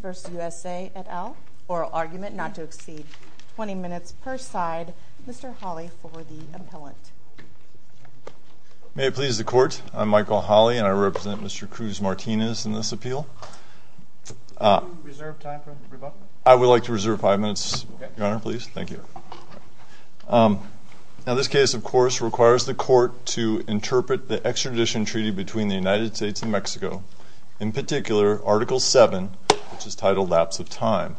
v. USA et al. Oral argument not to exceed 20 minutes per side. Mr. Hawley for the appellant. May it please the court, I'm Michael Hawley and I represent Mr. Cruz Martinez in this appeal. I would like to reserve five minutes, your honor, please. Thank you. Now this case, of course, requires the court to interpret the extradition treaty between the United States and Mexico, in particular, Article 7, which is titled Lapse of Time.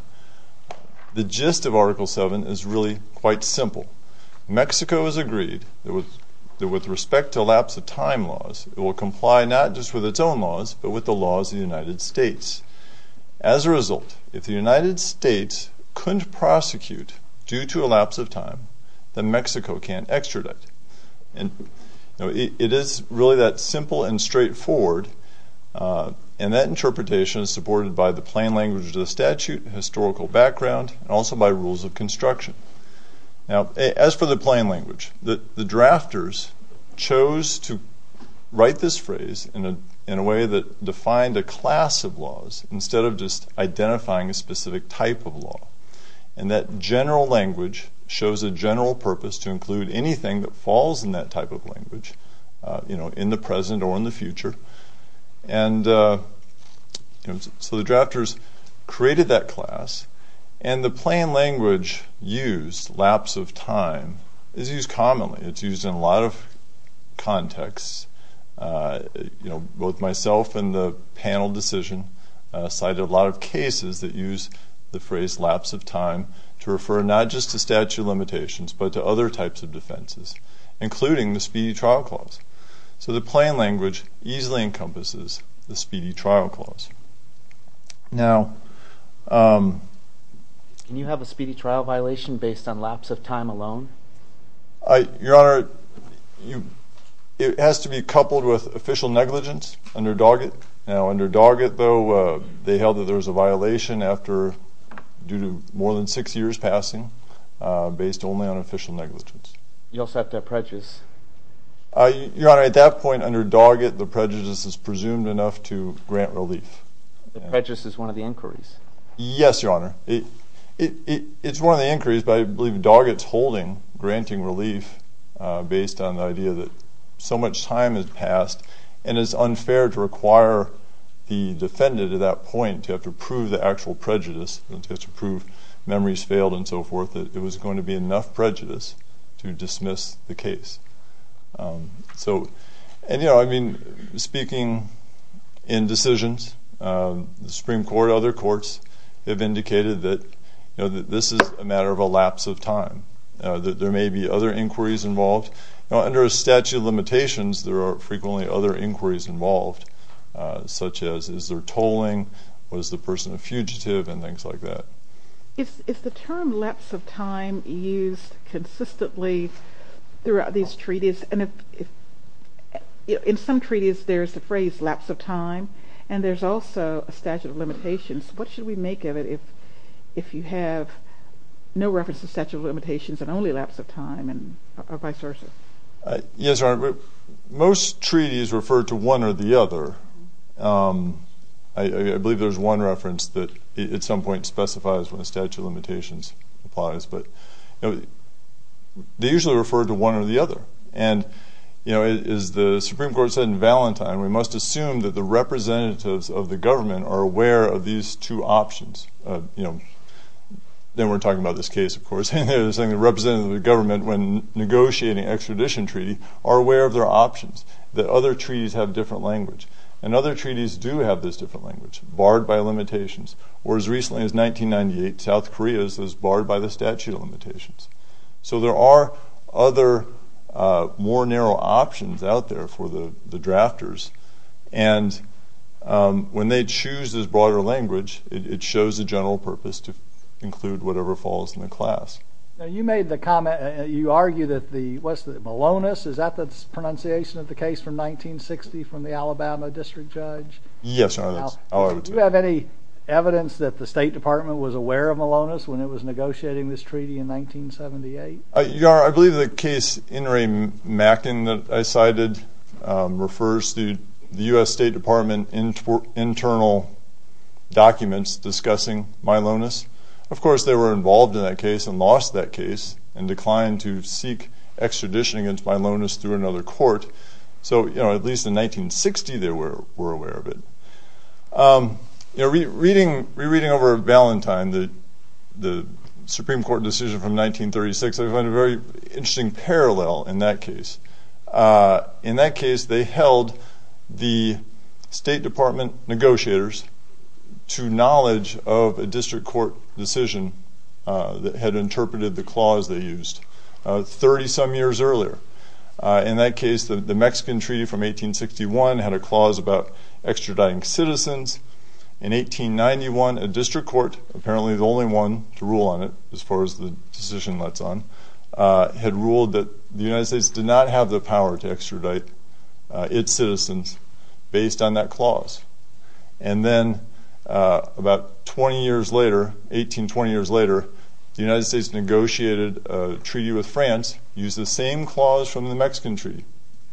The gist of Article 7 is really quite simple. Mexico has agreed that with respect to lapse of time laws, it will comply not just with its own laws, but with the laws of the United States. As a result, if the United States couldn't prosecute due to a lapse of time, then Mexico can't extradite. It is really that simple and straightforward, and that interpretation is supported by the plain language of the statute, historical background, and also by rules of construction. Now, as for the plain language, the drafters chose to write this phrase in a way that defined a class of laws, instead of just identifying a specific type of law. And that general language shows a general purpose to include anything that falls in that type of language, you know, in the present or in the future. And so the drafters created that class, and the plain language used, lapse of time, is used commonly. It's used in a You know, both myself and the panel decision cited a lot of cases that use the phrase lapse of time to refer not just to statute limitations, but to other types of defenses, including the Speedy Trial Clause. So the plain language easily encompasses the Speedy Trial Clause. Now, can you have a speedy trial violation based on lapse of time alone? Your Honor, it has to be coupled with official negligence under Doggett. Now, under Doggett, though, they held that there was a violation after, due to more than six years passing, based only on official negligence. You also have to have prejudice. Your Honor, at that point under Doggett, the prejudice is presumed enough to grant relief. The prejudice is one of the inquiries. Yes, Your Honor. It's one of the inquiries, but I believe Doggett's holding granting relief based on the idea that so much time has passed, and it's unfair to require the defendant at that point to have to prove the actual prejudice, to have to prove memories failed and so forth, that it was going to be enough So, and you know, I mean, speaking in decisions, the Supreme Court, other courts have indicated that, you know, that this is a matter of a lapse of time, that there may be other inquiries involved. Now, under a statute of limitations, there are frequently other inquiries involved, such as, is there tolling, was the person a fugitive, and things like that. Is the term lapse of time used consistently throughout these treaties? In some treaties, there's the phrase lapse of time, and there's also a statute of limitations. What should we make of it if you have no reference to statute of limitations and only lapse of time and vice versa? Yes, Your Honor. Most treaties refer to one or the other. I believe there's one reference that at some point specifies when a statute of limitations applies, but they usually refer to one or the other. And, you know, as the Supreme Court said in Valentine, we must assume that the representatives of the government are aware of these two options. You know, then we're talking about this case, of course. The representatives of the government, when negotiating extradition treaty, are aware of their options, that other treaties have different language. And other treaties do have this different language, barred by limitations. Or as recently as 1998, South Korea's was barred by the statute of limitations. So there are other more narrow options out there for the drafters. And when they choose this broader language, it shows the general purpose to include whatever falls in the class. Now, you made the comment, you argue that the, what's the, Malonis, is that the pronunciation of the case from 1960 from the Alabama district judge? Yes, Your Honor. Do you have any evidence that the State Department was aware of Malonis when it was negotiating this treaty in 1978? Your Honor, I believe the case, In re Macking, that I cited, refers to the U.S. State Department internal documents discussing Malonis. Of course, they were involved in that case and lost that case and declined to seek extradition against Malonis through another court. So, you know, at least in 1960 they were aware of it. You know, rereading over Valentine, the Supreme Court decision from 1936, I find a very interesting parallel in that case. In that case, they held the State Department negotiators to knowledge of a district court decision that had interpreted the clause they used 30 some years earlier. In that case, the Mexican treaty from 1861 had a clause about extraditing citizens. In 1891, a district court, apparently the only one to rule on it as far as the decision lets on, had ruled that the United States did not have the power to extradite its citizens based on that clause. And then about 20 years later, 18, 20 years later, the United States negotiated a treaty with France, used the same clause from the Mexican treaty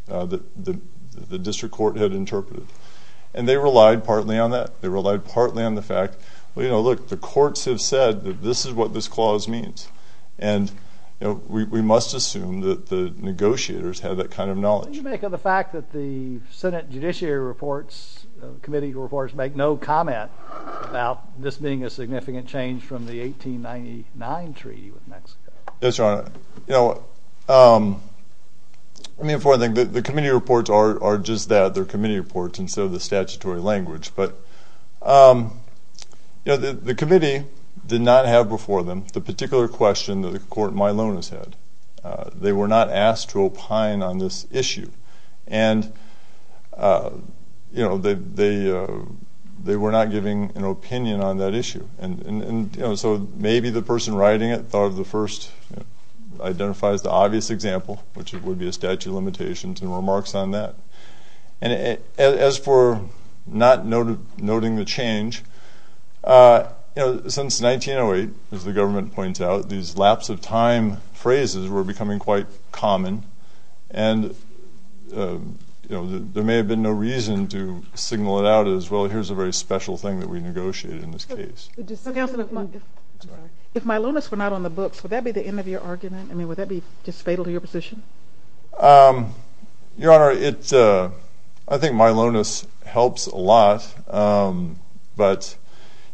that the district court had interpreted. And they relied partly on that. They relied partly on the fact, well, you know, look, the courts have said that this is what this clause means. And, you know, we must assume that the negotiators had that kind of knowledge. What do you make of the fact that the Senate Judiciary Reports, Committee Reports, make no comment about this being a significant change from the 1899 treaty with Mexico? Yes, Your Honor. You know, let me inform you that the Committee Reports are just that, they're Committee Reports instead of the statutory language. But, you know, the Committee did not have before them the particular question that the court Milonas had. They were not asked to opine on this issue. And, you know, they were not giving an opinion on that issue. And, you know, so maybe the person writing it thought of the first identifies the obvious example, which would be a statute of limitations and remarks on that. And as for not noting the change, you know, since 1908, as the government points out, these lapse of time phrases were becoming quite common. And, you know, there may have been no reason to signal it out as, well, here's a very special thing that we negotiated in this case. If Milonas were not on the books, would that be the end of your argument? I mean, would that be just fatal to your position? Your Honor, I think Milonas helps a lot. But,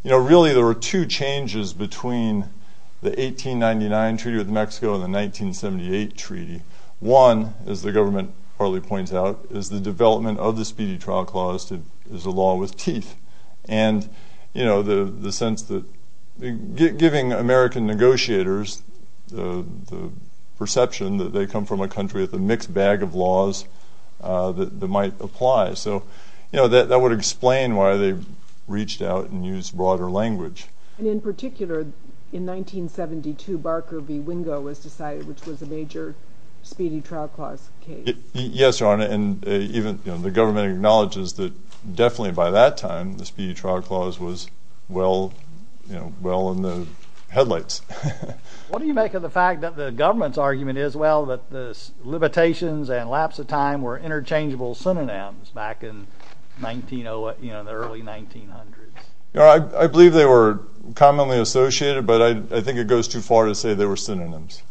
you know, really there were two changes between the 1899 treaty with Mexico and the 1978 treaty. One, as the government partly points out, is the development of the Speedy Trial Clause as a law with teeth. And, you know, the sense that giving American negotiators the perception that they come from a country with a mixed bag of laws that might apply. So, you know, that would explain why they reached out and used broader language. And in particular, in 1972, Barker v. Wingo was decided, which was a major Speedy Trial Clause case. Yes, Your Honor. And even, you know, the government acknowledges that definitely by that time, the Speedy Trial Clause was well, you know, well in the headlights. What do you make of the fact that the government's argument is, well, that the limitations and lapse of time were interchangeable synonyms back in the early 1900s? Your Honor, I believe they were commonly associated, but I think it goes too far to say they were synonyms.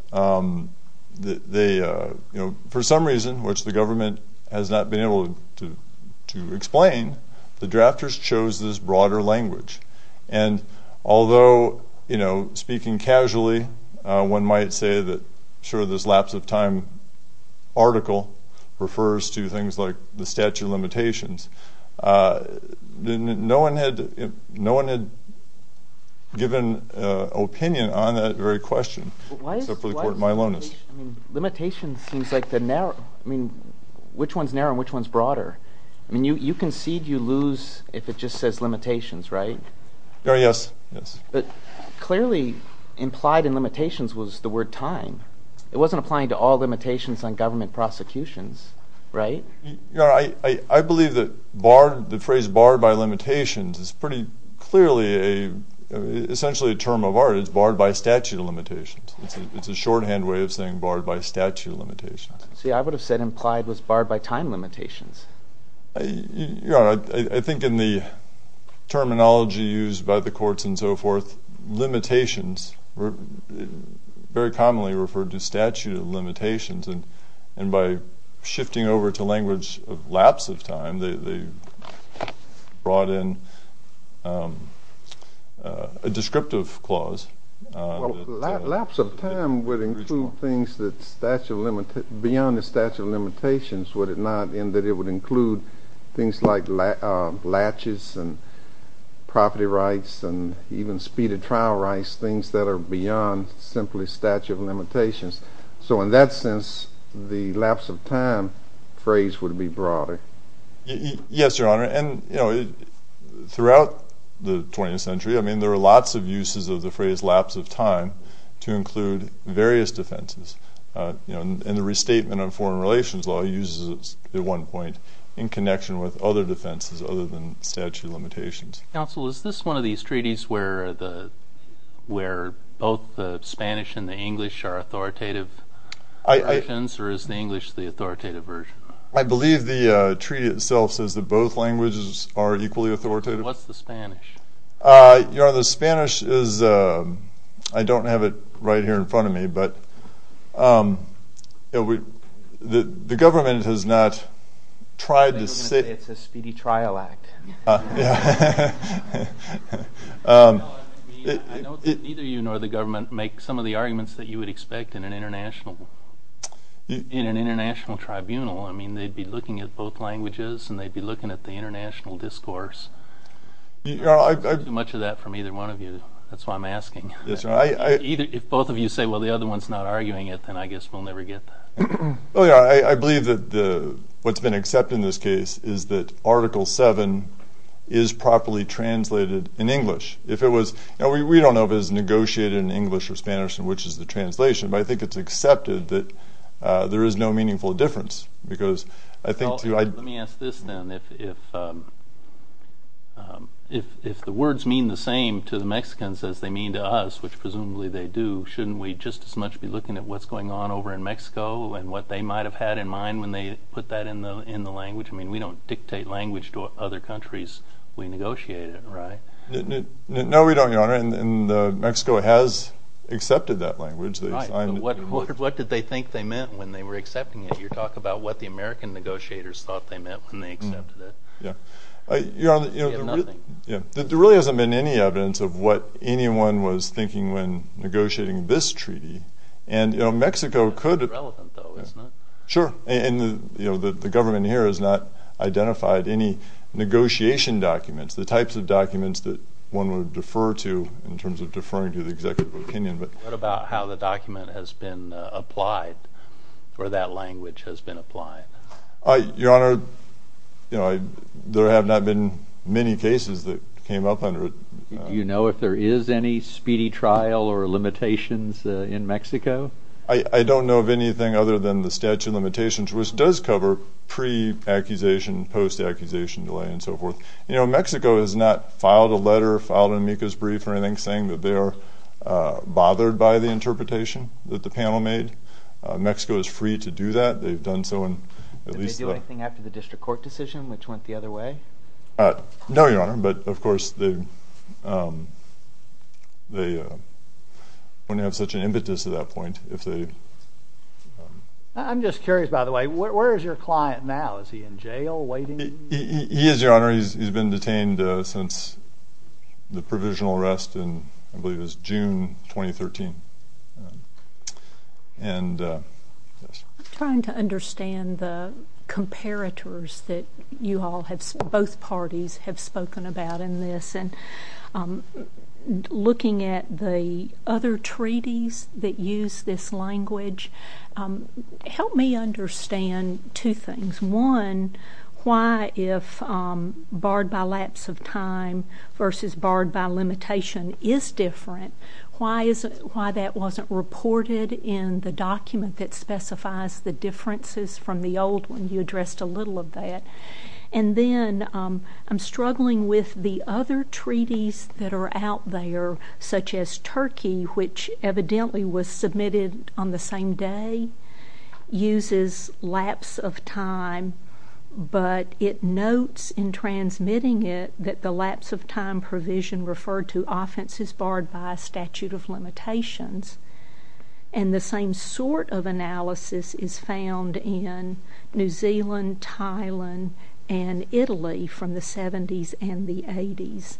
They, you know, for some reason, which the government has not been able to explain, the drafters chose this broader language. And although, you know, speaking casually, one might say that, sure, this lapse of time article refers to things like the statute of limitations. No one had given an opinion on that very question except for the court Milonis. Limitations seems like the narrow, I mean, which one's narrow and which one's broader? I mean, you concede you lose if it just says limitations, right? Your Honor, yes, yes. But clearly implied in limitations was the word time. It wasn't applying to all limitations on government prosecutions, right? Your Honor, I believe that barred, the phrase barred by limitations is pretty clearly a, essentially a term of art. It's barred by statute of limitations. See, I would have said implied was barred by time limitations. Your Honor, I think in the terminology used by the courts and so forth, limitations were very commonly referred to statute of limitations. And by shifting over to language of lapse of time, they brought in a descriptive clause. Lapse of time would include things beyond the statute of limitations, would it not, in that it would include things like latches and property rights and even speeded trial rights, things that are beyond simply statute of limitations. So in that sense, the lapse of time phrase would be broader. Yes, Your Honor, and, you know, throughout the 20th century, I mean, there were lots of uses of the phrase lapse of time to include various defenses. You know, and the restatement of foreign relations law uses it at one point in connection with other defenses other than statute of limitations. Counsel, is this one of these treaties where both the Spanish and the English are authoritative versions or is the English the authoritative version? I believe the treaty itself says that both languages are equally authoritative. What's the Spanish? Your Honor, the Spanish is, I don't have it right here in front of me, but the government has not tried to say. It's a speedy trial act. I know that neither you nor the government make some of the arguments that you would expect in an international tribunal. I mean, they'd be looking at both languages and they'd be looking at the international discourse. You know, I've heard too much of that from either one of you. That's why I'm asking. If both of you say, well, the other one's not arguing it, then I guess we'll never get that. I believe that what's been accepted in this case is that Article 7 is properly translated in English. If it was, you know, we don't know if it was negotiated in English or Spanish and which is the translation, but I think it's accepted that there is no meaningful difference. Let me ask this then. If the words mean the same to the Mexicans as they mean to us, which presumably they do, shouldn't we just as much be looking at what's going on over in Mexico and what they might have had in mind when they put that in the language? I mean, we don't dictate language to other countries. We negotiate it, right? No, we don't, Your Honor. And Mexico has accepted that language. Right. What did they think they meant when they were accepting it? You're talking about what the American negotiators thought they meant when they accepted it. Yeah. Nothing. There really hasn't been any evidence of what anyone was thinking when negotiating this treaty. And, you know, Mexico could have— It's not relevant, though, is it? Sure. And, you know, the government here has not identified any negotiation documents, the types of documents that one would defer to in terms of deferring to the executive opinion. What about how the document has been applied or that language has been applied? Your Honor, you know, there have not been many cases that came up under it. Do you know if there is any speedy trial or limitations in Mexico? I don't know of anything other than the statute of limitations, which does cover pre-accusation, post-accusation delay, and so forth. You know, Mexico has not filed a letter or filed an amicus brief or anything saying that they are bothered by the interpretation that the panel made. Mexico is free to do that. They've done so in at least the— Did they do anything after the district court decision, which went the other way? No, Your Honor, but, of course, they wouldn't have such an impetus at that point if they— I'm just curious, by the way, where is your client now? Is he in jail waiting? He is, Your Honor. He's been detained since the provisional arrest in, I believe it was June 2013. I'm trying to understand the comparators that both parties have spoken about in this and looking at the other treaties that use this language. Help me understand two things. One, why if barred by lapse of time versus barred by limitation is different, why that wasn't reported in the document that specifies the differences from the old one? You addressed a little of that. And then I'm struggling with the other treaties that are out there, such as Turkey, which evidently was submitted on the same day, uses lapse of time, but it notes in transmitting it that the lapse of time provision referred to offense is barred by a statute of limitations. And the same sort of analysis is found in New Zealand, Thailand, and Italy from the 70s and the 80s.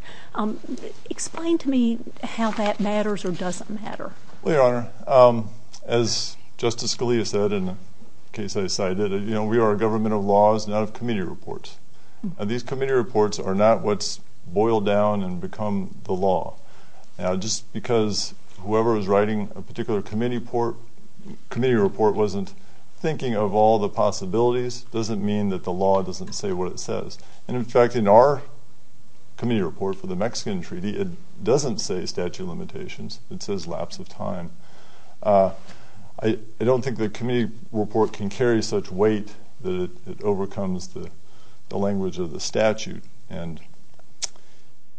Explain to me how that matters or doesn't matter. Well, Your Honor, as Justice Scalia said in the case I cited, we are a government of laws, not of committee reports. These committee reports are not what's boiled down and become the law. Just because whoever is writing a particular committee report wasn't thinking of all the possibilities doesn't mean that the law doesn't say what it says. And, in fact, in our committee report for the Mexican treaty, it doesn't say statute of limitations. It says lapse of time. I don't think the committee report can carry such weight that it overcomes the language of the statute.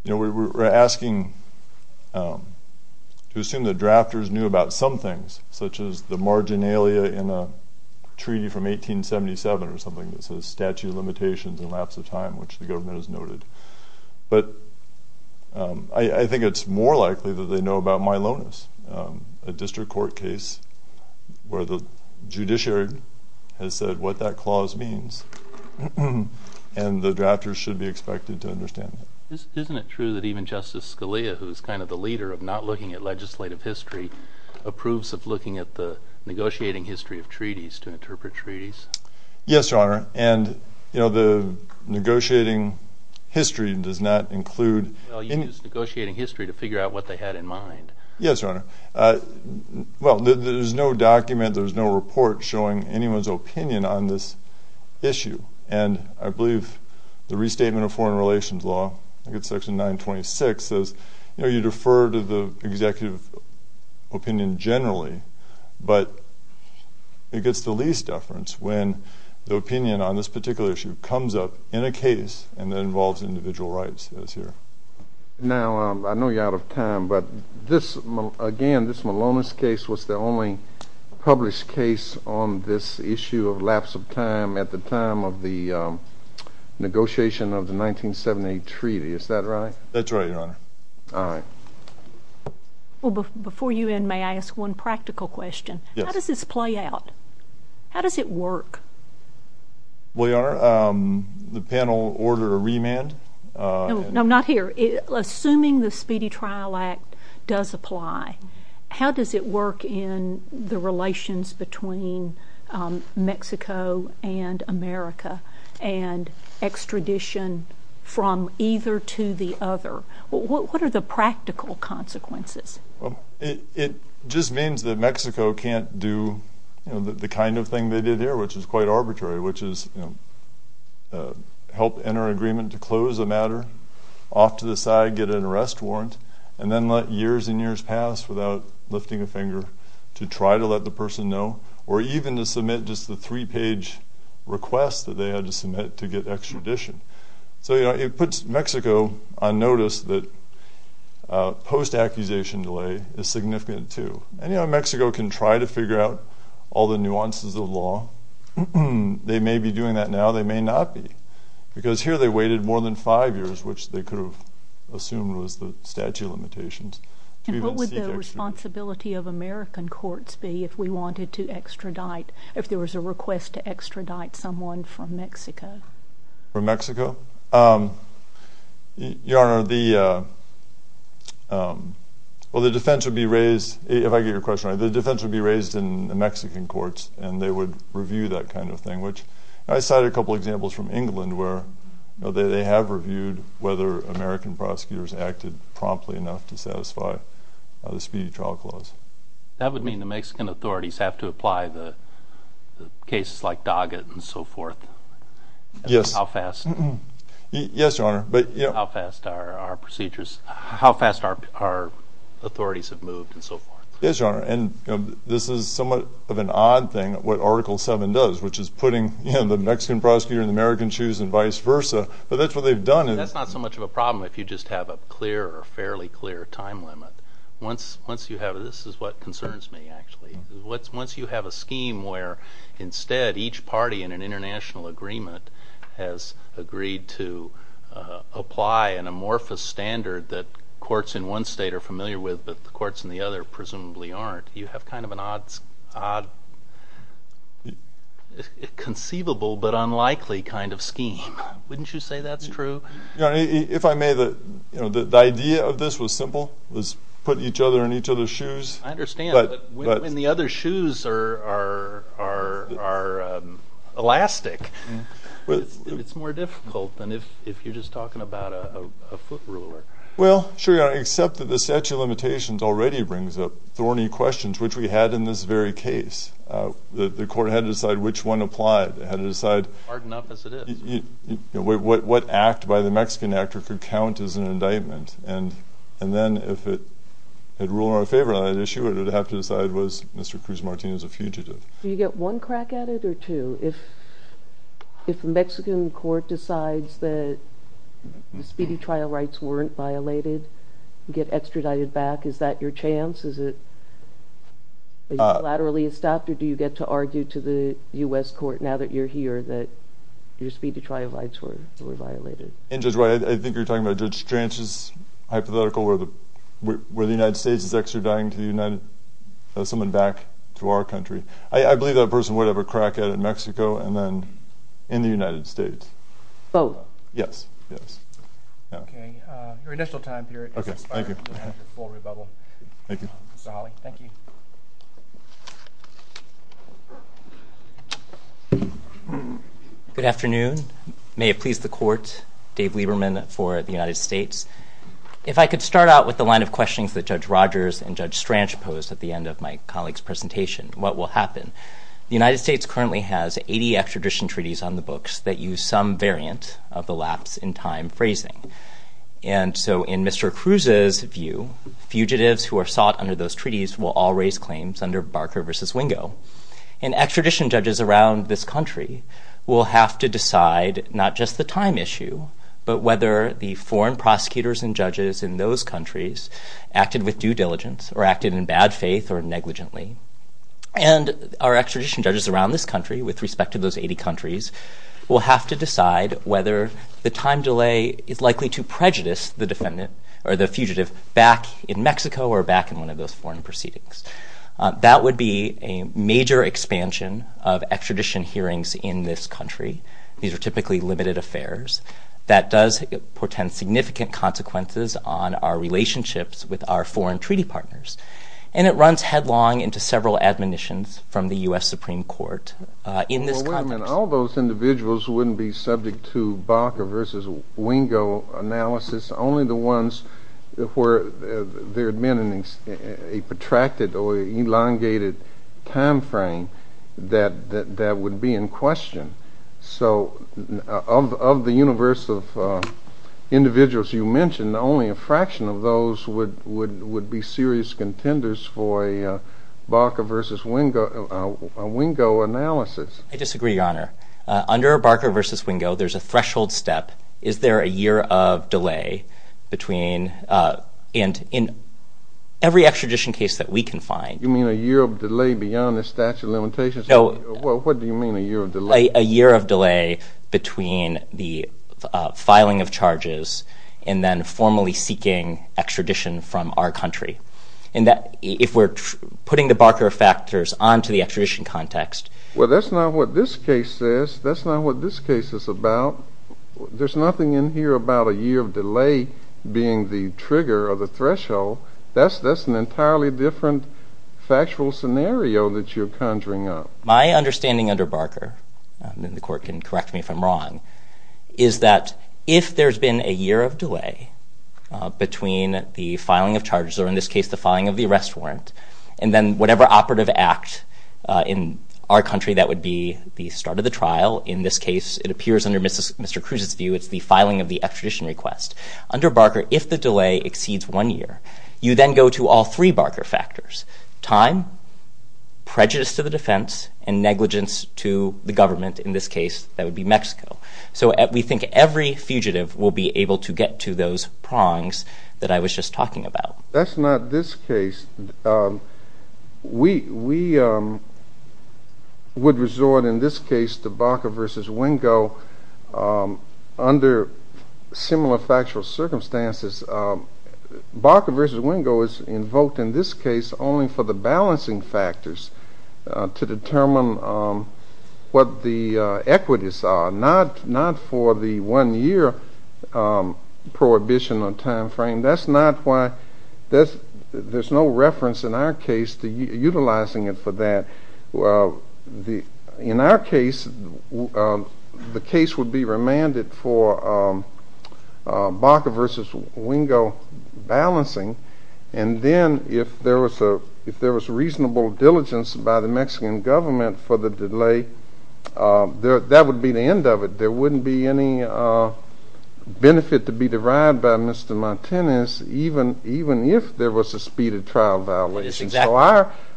We're asking to assume that drafters knew about some things, such as the marginalia in a treaty from 1877 or something that says statute of limitations and lapse of time, which the government has noted. But I think it's more likely that they know about Milonis, a district court case where the judiciary has said what that clause means, and the drafters should be expected to understand that. Isn't it true that even Justice Scalia, who is kind of the leader of not looking at legislative history, approves of looking at the negotiating history of treaties to interpret treaties? Yes, Your Honor. And, you know, the negotiating history does not include... Well, you use negotiating history to figure out what they had in mind. Yes, Your Honor. Well, there's no document, there's no report showing anyone's opinion on this issue. And I believe the restatement of foreign relations law, I think it's section 926, says, you know, you defer to the executive opinion generally, but it gets the least deference when the opinion on this particular issue comes up in a case and it involves individual rights, it says here. Now, I know you're out of time, but this, again, this Milonis case was the only published case on this issue of lapse of time at the time of the negotiation of the 1978 treaty. Is that right? That's right, Your Honor. All right. Well, before you end, may I ask one practical question? Yes. How does this play out? How does it work? Well, Your Honor, the panel ordered a remand. No, not here. Assuming the Speedy Trial Act does apply, how does it work in the relations between Mexico and America and extradition from either to the other? What are the practical consequences? Well, it just means that Mexico can't do, you know, the kind of thing they did here, which is quite arbitrary, which is, you know, help enter an agreement to close the matter, off to the side, get an arrest warrant, and then let years and years pass without lifting a finger to try to let the person know or even to submit just the three-page request that they had to submit to get extradition. So, you know, it puts Mexico on notice that post-accusation delay is significant too. And, you know, Mexico can try to figure out all the nuances of law. They may be doing that now. They may not be because here they waited more than five years, which they could have assumed was the statute of limitations. And what would the responsibility of American courts be if we wanted to extradite, if there was a request to extradite someone from Mexico? From Mexico? Your Honor, the defense would be raised, if I get your question right, the defense would be raised in the Mexican courts, and they would review that kind of thing, which I cited a couple of examples from England where, you know, they have reviewed whether American prosecutors acted promptly enough to satisfy the speedy trial clause. That would mean the Mexican authorities have to apply the cases like Doggett and so forth? Yes. How fast? Yes, Your Honor. How fast our procedures, how fast our authorities have moved and so forth? Yes, Your Honor, and this is somewhat of an odd thing, what Article 7 does, which is putting the Mexican prosecutor in the American's shoes and vice versa. But that's what they've done. That's not so much of a problem if you just have a clear or fairly clear time limit. Once you have a scheme where instead each party in an international agreement has agreed to apply an amorphous standard that courts in one state are familiar with but the courts in the other presumably aren't, you have kind of an odd conceivable but unlikely kind of scheme. Wouldn't you say that's true? Your Honor, if I may, the idea of this was simple, was put each other in each other's shoes. I understand, but when the other's shoes are elastic, it's more difficult than if you're just talking about a foot ruler. Well, sure, Your Honor, except that the statute of limitations already brings up thorny questions, which we had in this very case. The court had to decide which one applied. It had to decide what act by the Mexican actor could count as an indictment. And then if it had ruled in our favor on that issue, it would have to decide was Mr. Cruz-Martinez a fugitive. Do you get one crack at it or two? If the Mexican court decides that the speedy trial rights weren't violated, you get extradited back, is that your chance? Is it laterally stopped or do you get to argue to the U.S. court now that you're here that your speedy trial rights were violated? And, Judge White, I think you're talking about Judge Stranch's hypothetical where the United States is extraditing someone back to our country. I believe that person would have a crack at it in Mexico and then in the United States. Both? Yes, yes. Okay, your initial time period is expired. Okay, thank you. Mr. Hawley, thank you. Good afternoon. May it please the Court, Dave Lieberman for the United States. If I could start out with the line of questions that Judge Rogers and Judge Stranch posed at the end of my colleague's presentation, what will happen? The United States currently has 80 extradition treaties on the books that use some variant of the lapse in time phrasing. And so in Mr. Cruz's view, fugitives who are sought under those treaties will all raise claims under Barker v. Wingo. And extradition judges around this country will have to decide not just the time issue, but whether the foreign prosecutors and judges in those countries acted with due diligence or acted in bad faith or negligently. And our extradition judges around this country with respect to those 80 countries will have to decide whether the time delay is likely to prejudice the defendant or the fugitive back in Mexico or back in one of those foreign proceedings. That would be a major expansion of extradition hearings in this country. These are typically limited affairs. That does portend significant consequences on our relationships with our foreign treaty partners. And it runs headlong into several admonitions from the U.S. Supreme Court in this context. Well, wait a minute. All those individuals wouldn't be subject to Barker v. Wingo analysis, only the ones where there had been a protracted or elongated time frame that would be in question. So of the universe of individuals you mentioned, only a fraction of those would be serious contenders for a Barker v. Wingo analysis. I disagree, Your Honor. Under Barker v. Wingo, there's a threshold step. Is there a year of delay between and in every extradition case that we can find. What do you mean a year of delay? A year of delay between the filing of charges and then formally seeking extradition from our country. If we're putting the Barker factors onto the extradition context. Well, that's not what this case says. That's not what this case is about. There's nothing in here about a year of delay being the trigger or the threshold. That's an entirely different factual scenario that you're conjuring up. My understanding under Barker, and the court can correct me if I'm wrong, is that if there's been a year of delay between the filing of charges, or in this case the filing of the arrest warrant, and then whatever operative act in our country that would be the start of the trial, in this case it appears under Mr. Cruz's view it's the filing of the extradition request. Under Barker, if the delay exceeds one year, you then go to all three Barker factors, time, prejudice to the defense, and negligence to the government. In this case, that would be Mexico. So we think every fugitive will be able to get to those prongs that I was just talking about. That's not this case. We would resort in this case to Barker v. Wingo under similar factual circumstances. Barker v. Wingo is invoked in this case only for the balancing factors to determine what the equities are, not for the one-year prohibition on time frame. That's not why there's no reference in our case to utilizing it for that. In our case, the case would be remanded for Barker v. Wingo balancing, and then if there was reasonable diligence by the Mexican government for the delay, that would be the end of it. There wouldn't be any benefit to be derived by Mr. Martinez even if there was a speeded trial violation. So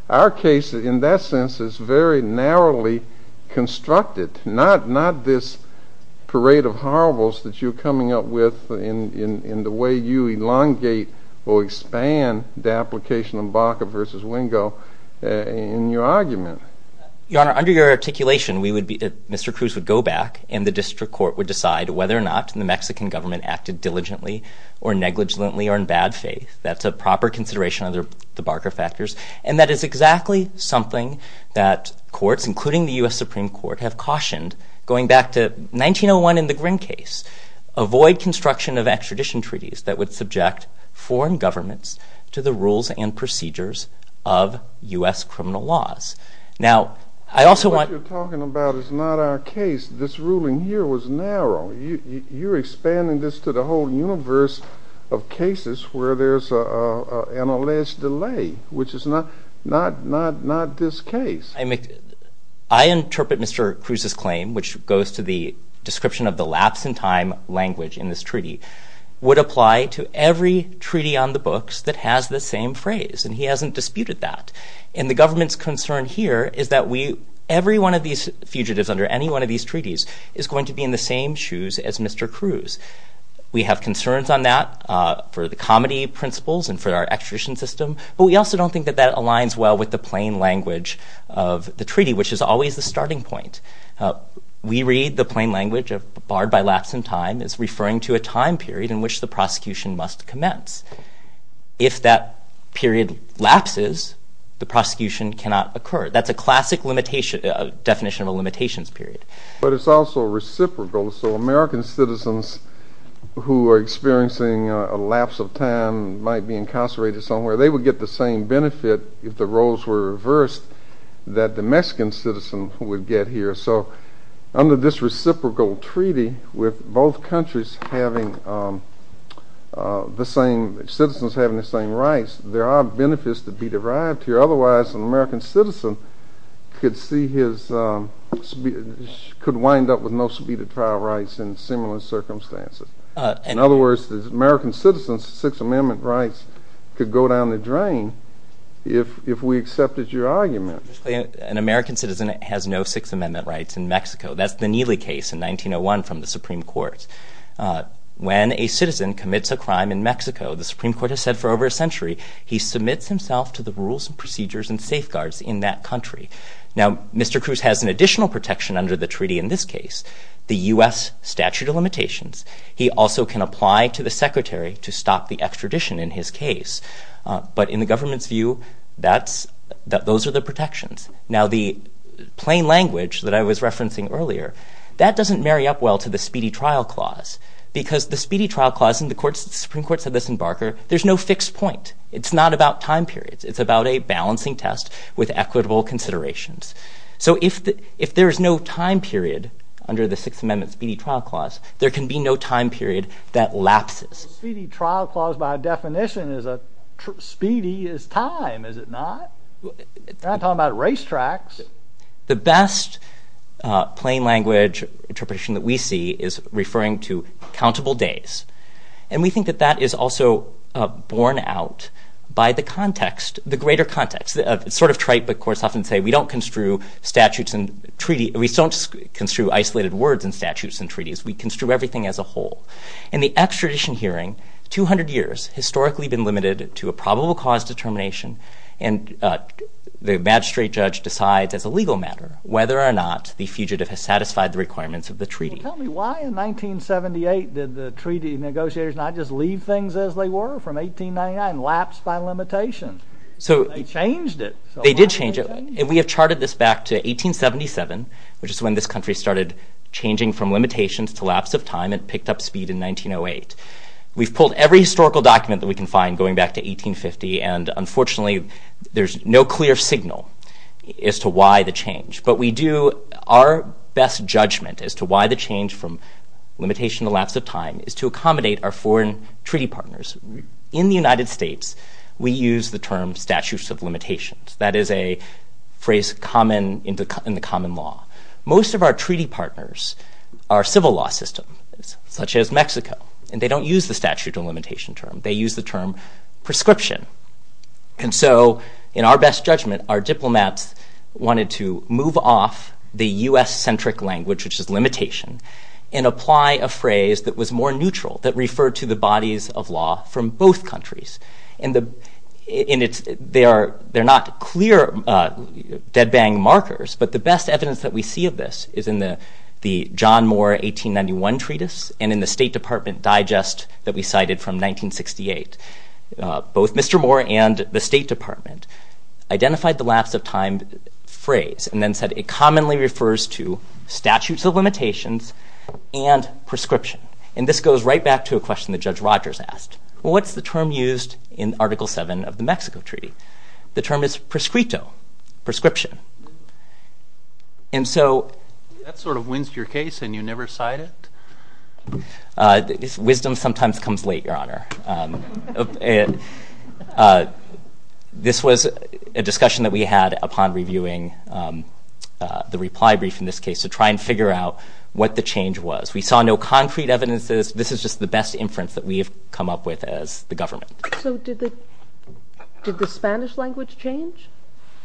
our case, in that sense, is very narrowly constructed, not this parade of horribles that you're coming up with in the way you elongate or expand the application of Barker v. Wingo in your argument. Your Honor, under your articulation, Mr. Cruz would go back and the district court would decide whether or not the Mexican government acted diligently or negligently or in bad faith. That's a proper consideration of the Barker factors, and that is exactly something that courts, including the U.S. Supreme Court, have cautioned going back to 1901 in the Grimm case. Avoid construction of extradition treaties that would subject foreign governments to the rules and procedures of U.S. criminal laws. What you're talking about is not our case. This ruling here was narrow. You're expanding this to the whole universe of cases where there's an alleged delay, which is not this case. I interpret Mr. Cruz's claim, which goes to the description of the lapse in time language in this treaty, would apply to every treaty on the books that has the same phrase, and he hasn't disputed that. And the government's concern here is that every one of these fugitives under any one of these treaties is going to be in the same shoes as Mr. Cruz. We have concerns on that for the comedy principles and for our extradition system, but we also don't think that that aligns well with the plain language of the treaty, which is always the starting point. We read the plain language of barred by lapse in time as referring to a time period in which the prosecution must commence. If that period lapses, the prosecution cannot occur. That's a classic definition of a limitations period. But it's also reciprocal, so American citizens who are experiencing a lapse of time, might be incarcerated somewhere, they would get the same benefit if the roles were reversed that the Mexican citizen would get here. So under this reciprocal treaty with both countries having the same, citizens having the same rights, there are benefits to be derived here. Otherwise, an American citizen could wind up with no subpoenaed trial rights in similar circumstances. In other words, the American citizen's Sixth Amendment rights could go down the drain if we accepted your argument. An American citizen has no Sixth Amendment rights in Mexico. That's the Neely case in 1901 from the Supreme Court. When a citizen commits a crime in Mexico, the Supreme Court has said for over a century he submits himself to the rules and procedures and safeguards in that country. Now, Mr. Cruz has an additional protection under the treaty in this case, the U.S. statute of limitations. He also can apply to the Secretary to stop the extradition in his case. But in the government's view, those are the protections. Now, the plain language that I was referencing earlier, that doesn't marry up well to the speedy trial clause, because the speedy trial clause in the Supreme Court said this in Barker, there's no fixed point. It's not about time periods. It's about a balancing test with equitable considerations. So if there is no time period under the Sixth Amendment speedy trial clause, there can be no time period that lapses. A speedy trial clause by definition is a speedy is time, is it not? You're not talking about racetracks. The best plain language interpretation that we see is referring to countable days. And we think that that is also borne out by the context, the greater context. It's sort of trite, but courts often say we don't construe statutes and treaty. We don't construe isolated words in statutes and treaties. We construe everything as a whole. In the extradition hearing, 200 years, historically been limited to a probable cause determination, and the magistrate judge decides as a legal matter whether or not the fugitive has satisfied the requirements of the treaty. Well, tell me, why in 1978 did the treaty negotiators not just leave things as they were from 1899, lapse by limitation? They changed it. They did change it, and we have charted this back to 1877, which is when this country started changing from limitations to lapse of time and picked up speed in 1908. We've pulled every historical document that we can find going back to 1850, and unfortunately there's no clear signal as to why the change. But we do our best judgment as to why the change from limitation to lapse of time is to accommodate our foreign treaty partners. In the United States, we use the term statutes of limitations. That is a phrase common in the common law. Most of our treaty partners are civil law systems, such as Mexico, and they don't use the statute of limitation term. They use the term prescription. And so in our best judgment, our diplomats wanted to move off the U.S.-centric language, which is limitation, and apply a phrase that was more neutral, that referred to the bodies of law from both countries. And they're not clear dead-bang markers, but the best evidence that we see of this is in the John Moore 1891 Treatise and in the State Department Digest that we cited from 1968. Both Mr. Moore and the State Department identified the lapse of time phrase and then said it commonly refers to statutes of limitations and prescription. And this goes right back to a question that Judge Rogers asked. What's the term used in Article VII of the Mexico Treaty? The term is prescrito, prescription. And so... That sort of wins your case and you never cite it? Wisdom sometimes comes late, Your Honor. This was a discussion that we had upon reviewing the reply brief in this case to try and figure out what the change was. We saw no concrete evidences. This is just the best inference that we have come up with as the government. So did the Spanish language change?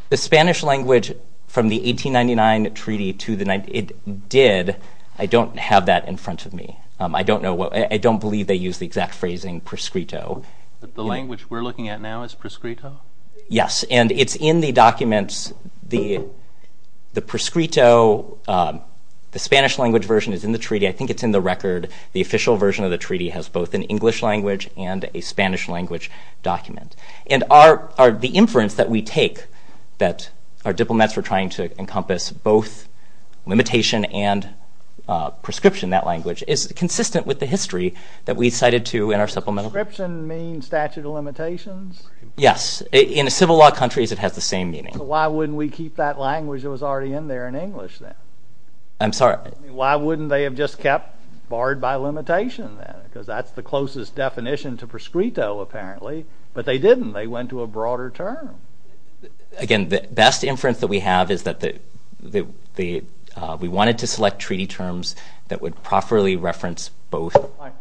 The Spanish language from the 1899 treaty to the 19... It did. I don't have that in front of me. I don't know what... I don't believe they used the exact phrasing prescrito. The language we're looking at now is prescrito? Yes, and it's in the documents. The prescrito, the Spanish language version is in the treaty. I think it's in the record. The official version of the treaty has both an English language and a Spanish language document. And the inference that we take that our diplomats were trying to encompass both limitation and prescription, that language, is consistent with the history that we cited to in our supplemental... Prescription means statute of limitations? Yes. In civil law countries, it has the same meaning. Why wouldn't we keep that language that was already in there in English then? I'm sorry? Why wouldn't they have just kept barred by limitation then? Because that's the closest definition to prescrito, apparently. But they didn't. They went to a broader term. Again, the best inference that we have is that we wanted to select treaty terms that would properly reference both.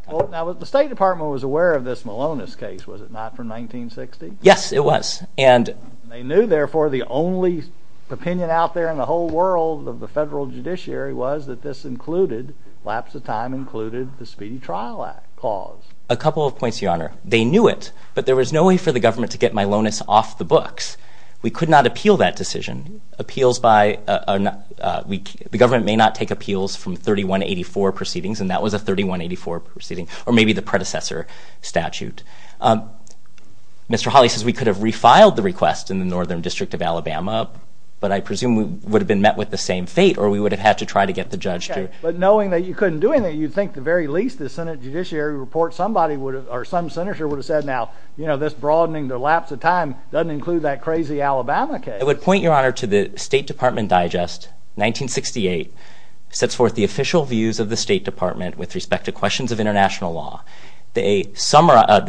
The State Department was aware of this Malonis case, was it not, from 1960? Yes, it was. And they knew, therefore, the only opinion out there in the whole world of the federal judiciary was that this included, lapse of time, included the Speedy Trial Act cause. A couple of points, Your Honor. They knew it, but there was no way for the government to get Malonis off the books. We could not appeal that decision. Appeals by a... The government may not take appeals from 3184 proceedings, and that was a 3184 proceeding, or maybe the predecessor statute. Mr. Hawley says we could have refiled the request in the Northern District of Alabama, but I presume we would have been met with the same fate, or we would have had to try to get the judge to... But knowing that you couldn't do anything, you'd think at the very least the Senate Judiciary Report, somebody would have, or some senator would have said, now, you know, this broadening the lapse of time doesn't include that crazy Alabama case. I would point, Your Honor, to the State Department Digest, 1968, sets forth the official views of the State Department with respect to questions of international law. The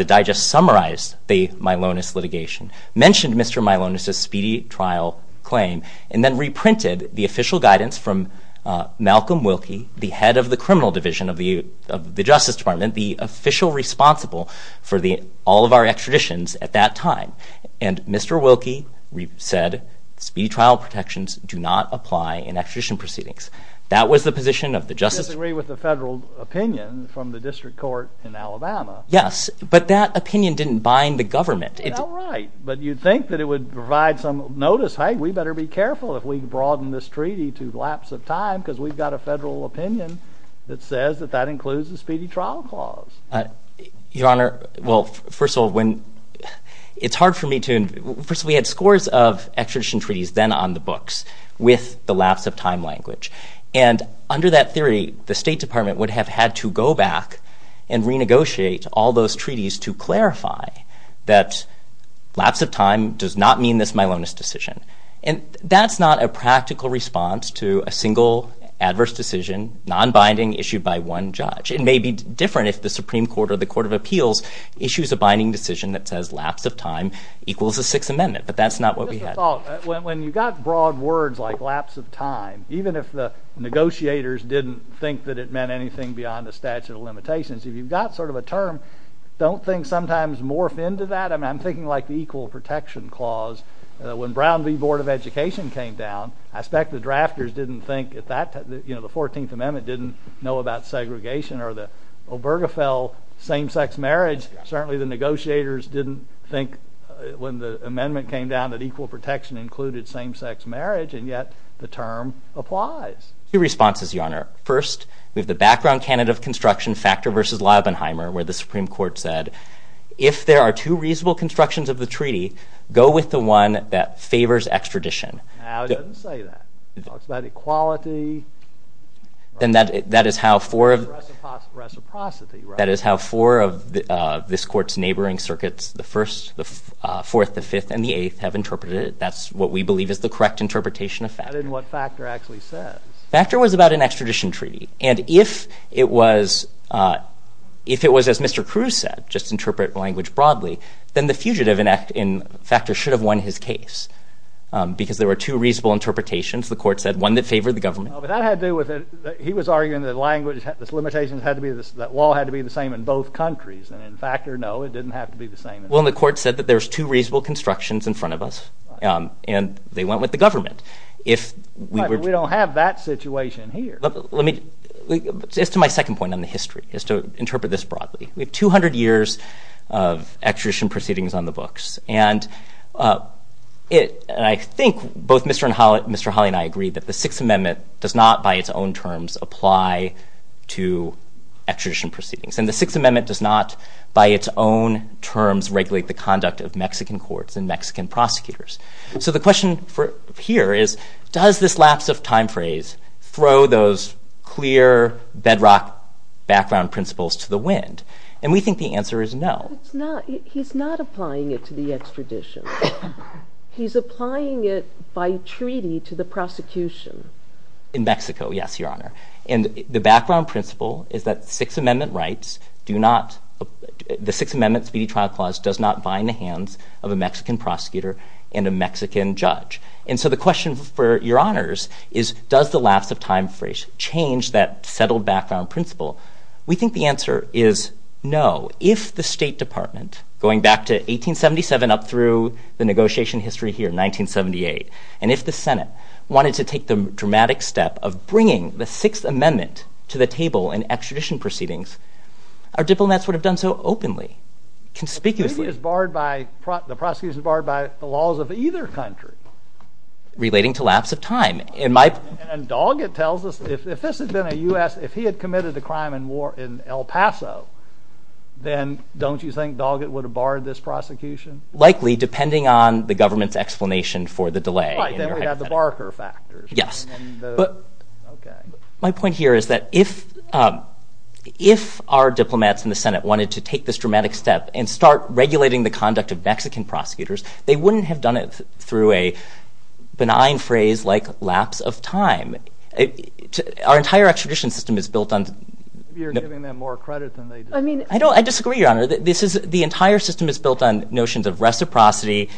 Digest summarized the Malonis litigation, mentioned Mr. Malonis's speedy trial claim, and then reprinted the official guidance from Malcolm Wilkie, the head of the criminal division of the Justice Department, the official responsible for all of our extraditions at that time. And Mr. Wilkie said speedy trial protections do not apply in extradition proceedings. That was the position of the Justice... You disagree with the federal opinion from the District Court in Alabama. Yes, but that opinion didn't bind the government. All right, but you'd think that it would provide some notice, hey, we better be careful if we broaden this treaty to lapse of time because we've got a federal opinion that says that that includes the speedy trial clause. Your Honor, well, first of all, when... It's hard for me to... First, we had scores of extradition treaties then on the books with the lapse of time language. And under that theory, the State Department would have had to go back and renegotiate all those treaties to clarify that lapse of time does not mean this Milonis decision. And that's not a practical response to a single adverse decision, nonbinding, issued by one judge. It may be different if the Supreme Court or the Court of Appeals issues a binding decision that says lapse of time equals a Sixth Amendment, but that's not what we had. When you've got broad words like lapse of time, even if the negotiators didn't think that it meant anything beyond the statute of limitations, if you've got sort of a term, don't things sometimes morph into that? I mean, I'm thinking like the Equal Protection Clause. When Brown v. Board of Education came down, I expect the drafters didn't think at that time... You know, the 14th Amendment didn't know about segregation or the Obergefell same-sex marriage. Certainly the negotiators didn't think when the amendment came down that equal protection included same-sex marriage, and yet the term applies. Two responses, Your Honor. First, we have the background candidate of construction, Factor v. Leubenheimer, where the Supreme Court said, if there are two reasonable constructions of the treaty, go with the one that favors extradition. No, it doesn't say that. It talks about equality. Then that is how four of... Reciprocity, right? That is how four of this Court's neighboring circuits, the Fourth, the Fifth, and the Eighth, have interpreted it. That's what we believe is the correct interpretation of Factor. That isn't what Factor actually says. Factor was about an extradition treaty, and if it was, as Mr. Cruz said, just interpret language broadly, then the fugitive in Factor should have won his case because there were two reasonable interpretations. The Court said one that favored the government. But that had to do with it. He was arguing that this limitation had to be, that law had to be the same in both countries, and in Factor, no, it didn't have to be the same. Well, and the Court said that there's two reasonable constructions in front of us, and they went with the government. But we don't have that situation here. Let me... Just to my second point on the history, is to interpret this broadly. We have 200 years of extradition proceedings on the books, and I think both Mr. Holley and I agree that the Sixth Amendment does not, by its own terms, apply to extradition proceedings. And the Sixth Amendment does not, by its own terms, regulate the conduct of Mexican courts and Mexican prosecutors. So the question here is, does this lapse of time phrase throw those clear bedrock background principles to the wind? And we think the answer is no. He's not applying it to the extradition. He's applying it by treaty to the prosecution. In Mexico, yes, Your Honor. And the background principle is that Sixth Amendment rights do not, of a Mexican prosecutor and a Mexican judge. And so the question for Your Honors is, does the lapse of time phrase change that settled background principle? We think the answer is no. If the State Department, going back to 1877, up through the negotiation history here in 1978, and if the Senate wanted to take the dramatic step of bringing the Sixth Amendment to the table in extradition proceedings, our diplomats would have done so openly, conspicuously. But the prosecution is barred by the laws of either country. Relating to lapse of time. And Doggett tells us if this had been a U.S. If he had committed a crime in El Paso, then don't you think Doggett would have barred this prosecution? Likely, depending on the government's explanation for the delay. Right, then we'd have the Barker factors. Yes. My point here is that if our diplomats in the Senate wanted to take this dramatic step and start regulating the conduct of Mexican prosecutors, they wouldn't have done it through a benign phrase like lapse of time. Our entire extradition system is built on... You're giving them more credit than they deserve. I disagree, Your Honor. The entire system is built on notions of reciprocity,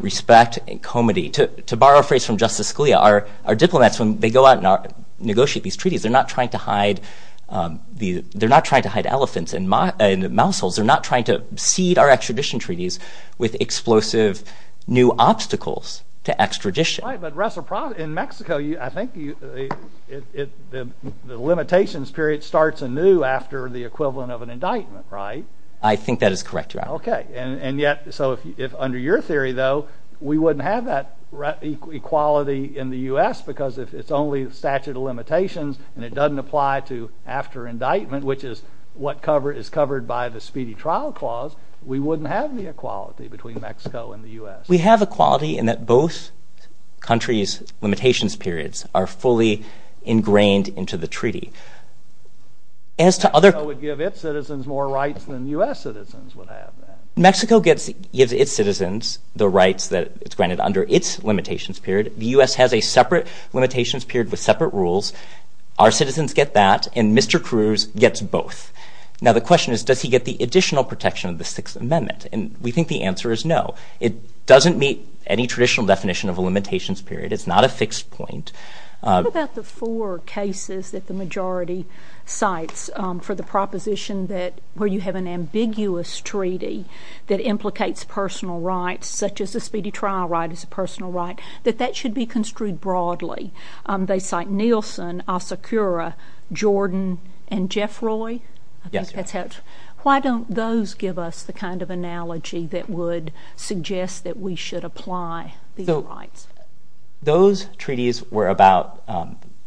respect, and comity. To borrow a phrase from Justice Scalia, our diplomats, when they go out and negotiate these treaties, they're not trying to hide elephants. They're not trying to cede our extradition treaties with explosive new obstacles to extradition. Right, but reciprocity... In Mexico, I think the limitations period starts anew after the equivalent of an indictment, right? I think that is correct, Your Honor. Okay. And yet, so if under your theory, though, we wouldn't have that equality in the U.S. because it's only the statute of limitations, and it doesn't apply to after indictment, which is what is covered by the Speedy Trial Clause, we wouldn't have the equality between Mexico and the U.S. We have equality in that both countries' limitations periods are fully ingrained into the treaty. As to other... Mexico would give its citizens more rights than U.S. citizens would have that. Mexico gives its citizens the rights that it's granted under its limitations period. The U.S. has a separate limitations period with separate rules. Our citizens get that, and Mr. Cruz gets both. Now, the question is, does he get the additional protection of the Sixth Amendment? And we think the answer is no. It doesn't meet any traditional definition of a limitations period. It's not a fixed point. What about the four cases that the majority cites for the proposition that where you have an ambiguous treaty that implicates personal rights, such as the Speedy Trial right is a personal right, that that should be construed broadly? They cite Nielsen, Asakura, Jordan, and Jeffroy. I think that's how... Why don't those give us the kind of analogy that would suggest that we should apply these rights? Those treaties were about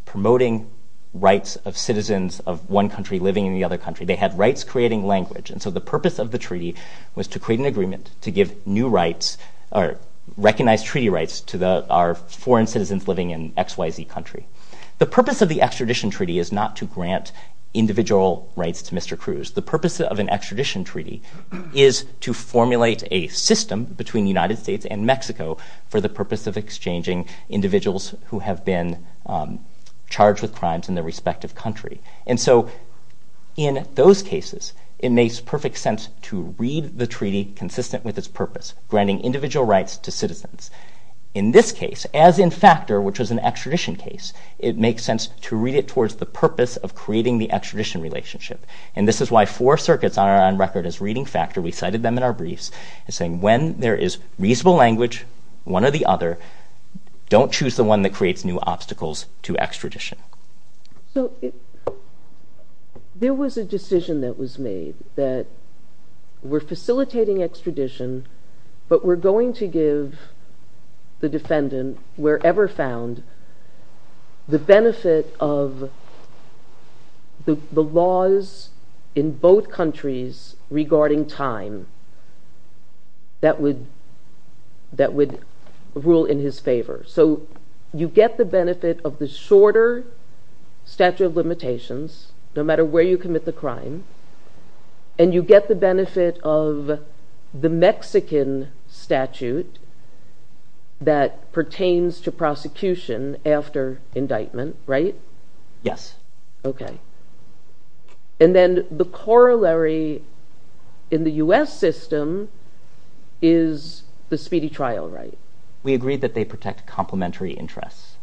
promoting rights of citizens of one country living in the other country. They had rights creating language. And so the purpose of the treaty was to create an agreement to give new rights or recognize treaty rights to our foreign citizens living in XYZ country. The purpose of the extradition treaty is not to grant individual rights to Mr. Cruz. The purpose of an extradition treaty is to formulate a system between the United States and Mexico for the purpose of exchanging individuals who have been charged with crimes in their respective country. And so in those cases, it makes perfect sense to read the treaty consistent with its purpose, granting individual rights to citizens. In this case, as in Factor, which was an extradition case, it makes sense to read it towards the purpose of creating the extradition relationship. And this is why four circuits are on record as reading Factor. We cited them in our briefs. It's saying when there is reasonable language, one or the other, don't choose the one that creates new obstacles to extradition. So there was a decision that was made that we're facilitating extradition, but we're going to give the defendant, wherever found, the benefit of the laws in both countries regarding time that would rule in his favor. So you get the benefit of the shorter statute of limitations, no matter where you commit the crime, and you get the benefit of the Mexican statute that pertains to prosecution after indictment, right? Yes. Okay. And then the corollary in the U.S. system is the speedy trial right? We agree that they protect complementary interests.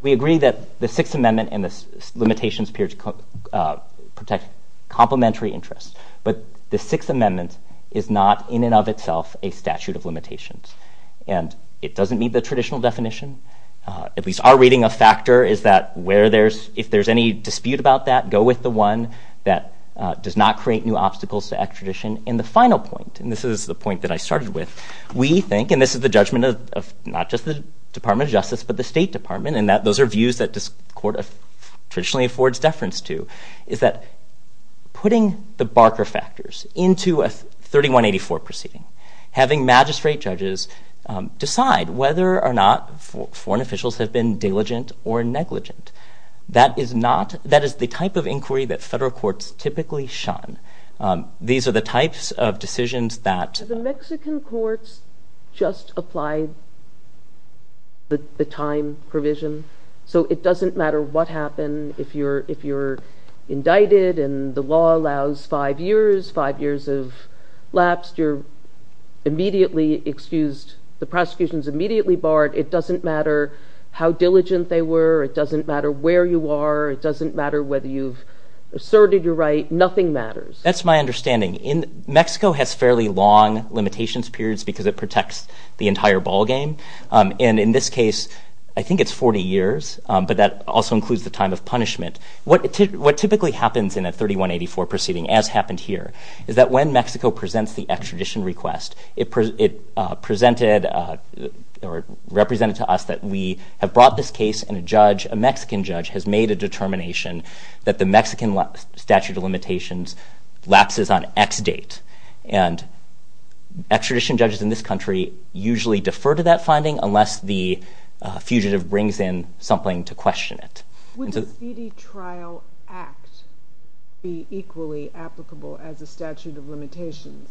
We agree that the Sixth Amendment and the limitations appear to protect complementary interests. But the Sixth Amendment is not in and of itself a statute of limitations. And it doesn't meet the traditional definition. At least our reading of Factor is that if there's any dispute about that, go with the one that does not create new obstacles to extradition. And the final point, and this is the point that I started with, we think, and this is the judgment of not just the Department of Justice, but the State Department, and that those are views that this court traditionally affords deference to, is that putting the Barker factors into a 3184 proceeding, having magistrate judges decide whether or not foreign officials have been diligent or negligent, that is the type of inquiry that federal courts typically shun. These are the types of decisions that... Can courts just apply the time provision? So it doesn't matter what happened. If you're indicted and the law allows five years, five years have lapsed, you're immediately excused. The prosecution's immediately barred. It doesn't matter how diligent they were. It doesn't matter where you are. It doesn't matter whether you've asserted your right. Nothing matters. That's my understanding. Mexico has fairly long limitations periods because it protects the entire ballgame, and in this case, I think it's 40 years, but that also includes the time of punishment. What typically happens in a 3184 proceeding, as happened here, is that when Mexico presents the extradition request, it represented to us that we have brought this case and a judge, a Mexican judge, has made a determination that the Mexican statute of limitations lapses on X date, and extradition judges in this country usually defer to that finding unless the fugitive brings in something to question it. Would the Feedy Trial Act be equally applicable as a statute of limitations?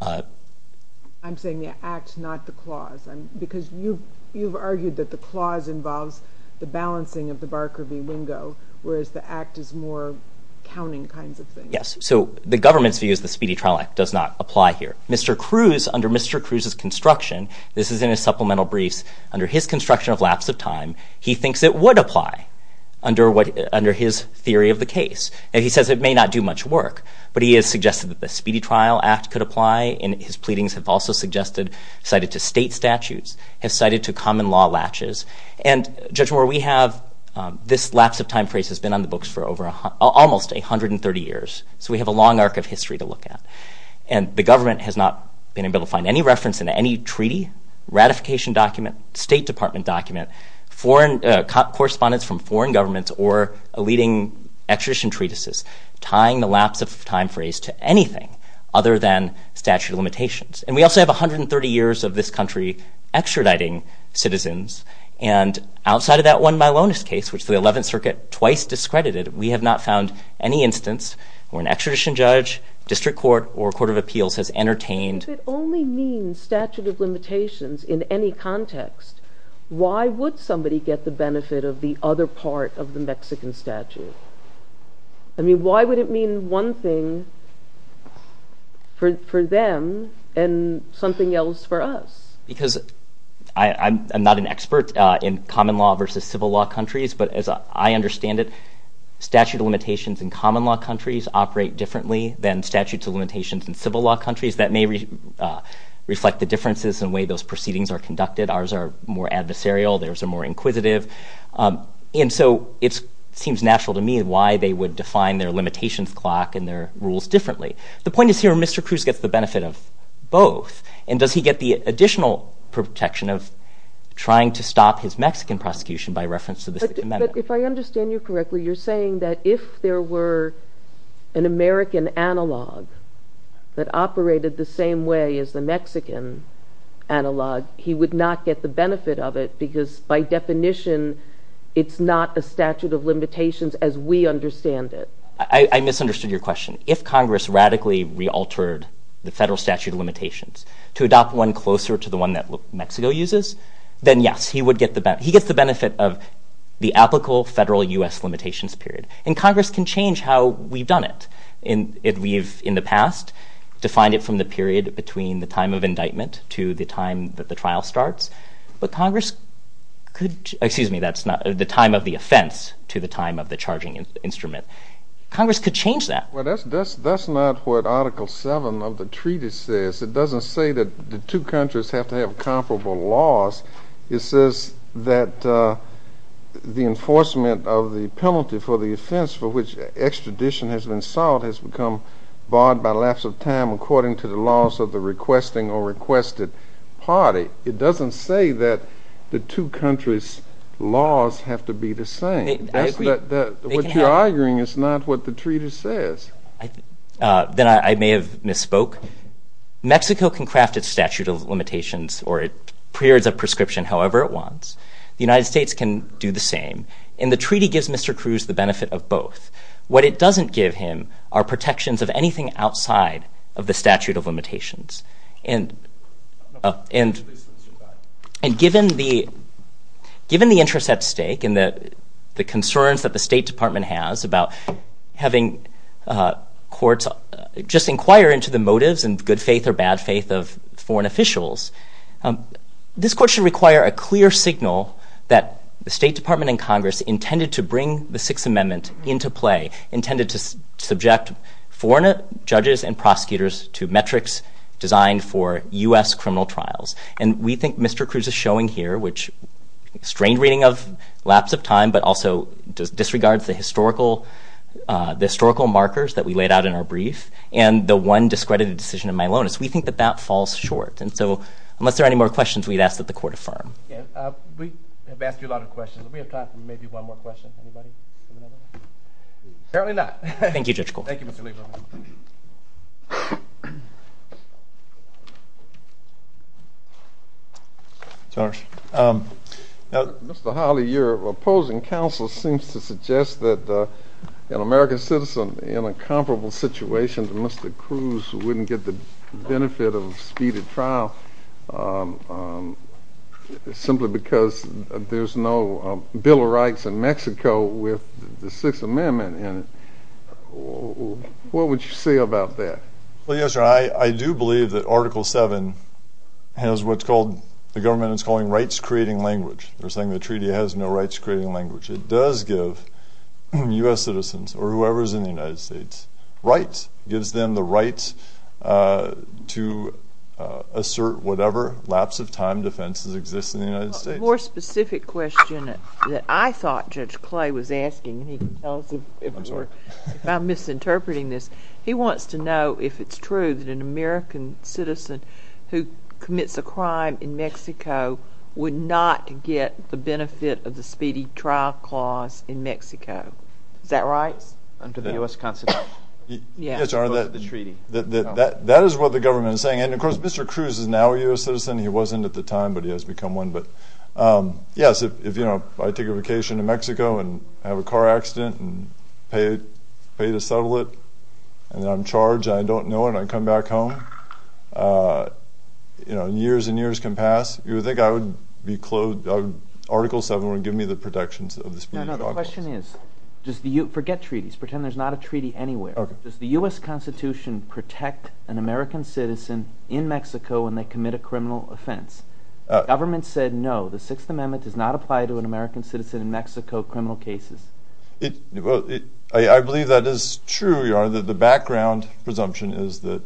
I'm saying the act, not the clause, because you've argued that the clause involves the balancing of the Barker v. Wingo, whereas the act is more counting kinds of things. Yes, so the government's view is the Speedy Trial Act does not apply here. Mr. Cruz, under Mr. Cruz's construction, this is in his supplemental briefs, under his construction of lapse of time, he thinks it would apply under his theory of the case, and he says it may not do much work, but he has suggested that the Speedy Trial Act could apply, and his pleadings have also suggested, cited to state statutes, have cited to common law latches, and Judge Moore, we have this lapse of time phrase that's been on the books for almost 130 years, so we have a long arc of history to look at. And the government has not been able to find any reference in any treaty, ratification document, State Department document, correspondence from foreign governments or leading extradition treatises tying the lapse of time phrase to anything other than statute of limitations. And we also have 130 years of this country extraditing citizens, and outside of that one Milonis case, which the 11th Circuit twice discredited, we have not found any instance where an extradition judge, district court, or court of appeals has entertained... If it only means statute of limitations in any context, why would somebody get the benefit of the other part of the Mexican statute? I mean, why would it mean one thing for them and something else for us? Because I'm not an expert in common law versus civil law countries, but as I understand it, statute of limitations in common law countries operate differently than statute of limitations in civil law countries. That may reflect the differences in the way those proceedings are conducted. Ours are more adversarial, theirs are more inquisitive. And so it seems natural to me why they would define their limitations clock and their rules differently. The point is here, Mr. Cruz gets the benefit of both. And does he get the additional protection of trying to stop his Mexican prosecution by reference to this amendment? But if I understand you correctly, you're saying that if there were an American analog that operated the same way as the Mexican analog, he would not get the benefit of it because by definition, it's not a statute of limitations as we understand it. If Congress radically re-altered the federal statute of limitations to adopt one closer to the one that Mexico uses, then yes, he would get the benefit. He gets the benefit of the applicable federal U.S. limitations period. And Congress can change how we've done it if we've, in the past, defined it from the period between the time of indictment to the time that the trial starts. But Congress could... Excuse me, the time of the offense to the time of the charging instrument. Congress could change that. Well, that's not what Article 7 of the treaty says. It doesn't say that the two countries have to have comparable laws. It says that the enforcement of the penalty for the offense for which extradition has been solved has become barred by lapse of time according to the laws of the requesting or requested party. It doesn't say that the two countries' laws have to be the same. What you're arguing is not what the treaty says. Then I may have misspoke. Mexico can craft its statute of limitations or its periods of prescription however it wants. The United States can do the same. And the treaty gives Mr. Cruz the benefit of both. What it doesn't give him are protections of anything outside of the statute of limitations. And given the interest at stake and the concerns that the State Department has about having courts just inquire into the motives and good faith or bad faith of foreign officials, this court should require a clear signal that the State Department and Congress intended to bring the Sixth Amendment into play, intended to subject foreign judges and prosecutors to metrics designed for U.S. criminal trials. And we think Mr. Cruz is showing here which strained reading of lapse of time but also disregards the historical markers that we laid out in our brief and the one discredited decision in Milonis. We think that that falls short. And so unless there are any more questions, we'd ask that the court affirm. We have asked you a lot of questions. Do we have time for maybe one more question? Anybody? Certainly not. Thank you, Judge Cole. Thank you, Mr. Lieberman. Thank you. Your Honor. Mr. Hawley, your opposing counsel seems to suggest that an American citizen in a comparable situation to Mr. Cruz wouldn't get the benefit of a speeded trial simply because there's no Bill of Rights in Mexico with the Sixth Amendment in it. What would you say about that? Well, Your Honor, I do believe that Article 7 has what the government is calling rights-creating language. They're saying the treaty has no rights-creating language. It does give U.S. citizens or whoever is in the United States rights. It gives them the right to assert whatever lapse of time defense exists in the United States. A more specific question that I thought Judge Clay was asking, and he can tell us if I'm misinterpreting this, he wants to know if it's true that an American citizen who commits a crime in Mexico would not get the benefit of the speeded trial clause in Mexico. Is that right? Under the U.S. Constitution. Yes, Your Honor, that is what the government is saying. And, of course, Mr. Cruz is now a U.S. citizen. He wasn't at the time, but he has become one. But, yes, if I take a vacation to Mexico and have a car accident and pay to settle it, and I'm charged, and I don't know it, and I come back home, and years and years can pass, you would think I would be clothed. Article 7 would give me the protections of the speeded trial clause. No, no, the question is, forget treaties. Pretend there's not a treaty anywhere. Does the U.S. Constitution protect an American citizen in Mexico when they commit a criminal offense? The government said no. The Sixth Amendment does not apply to an American citizen in Mexico in criminal cases. I believe that is true, Your Honor. The background presumption is that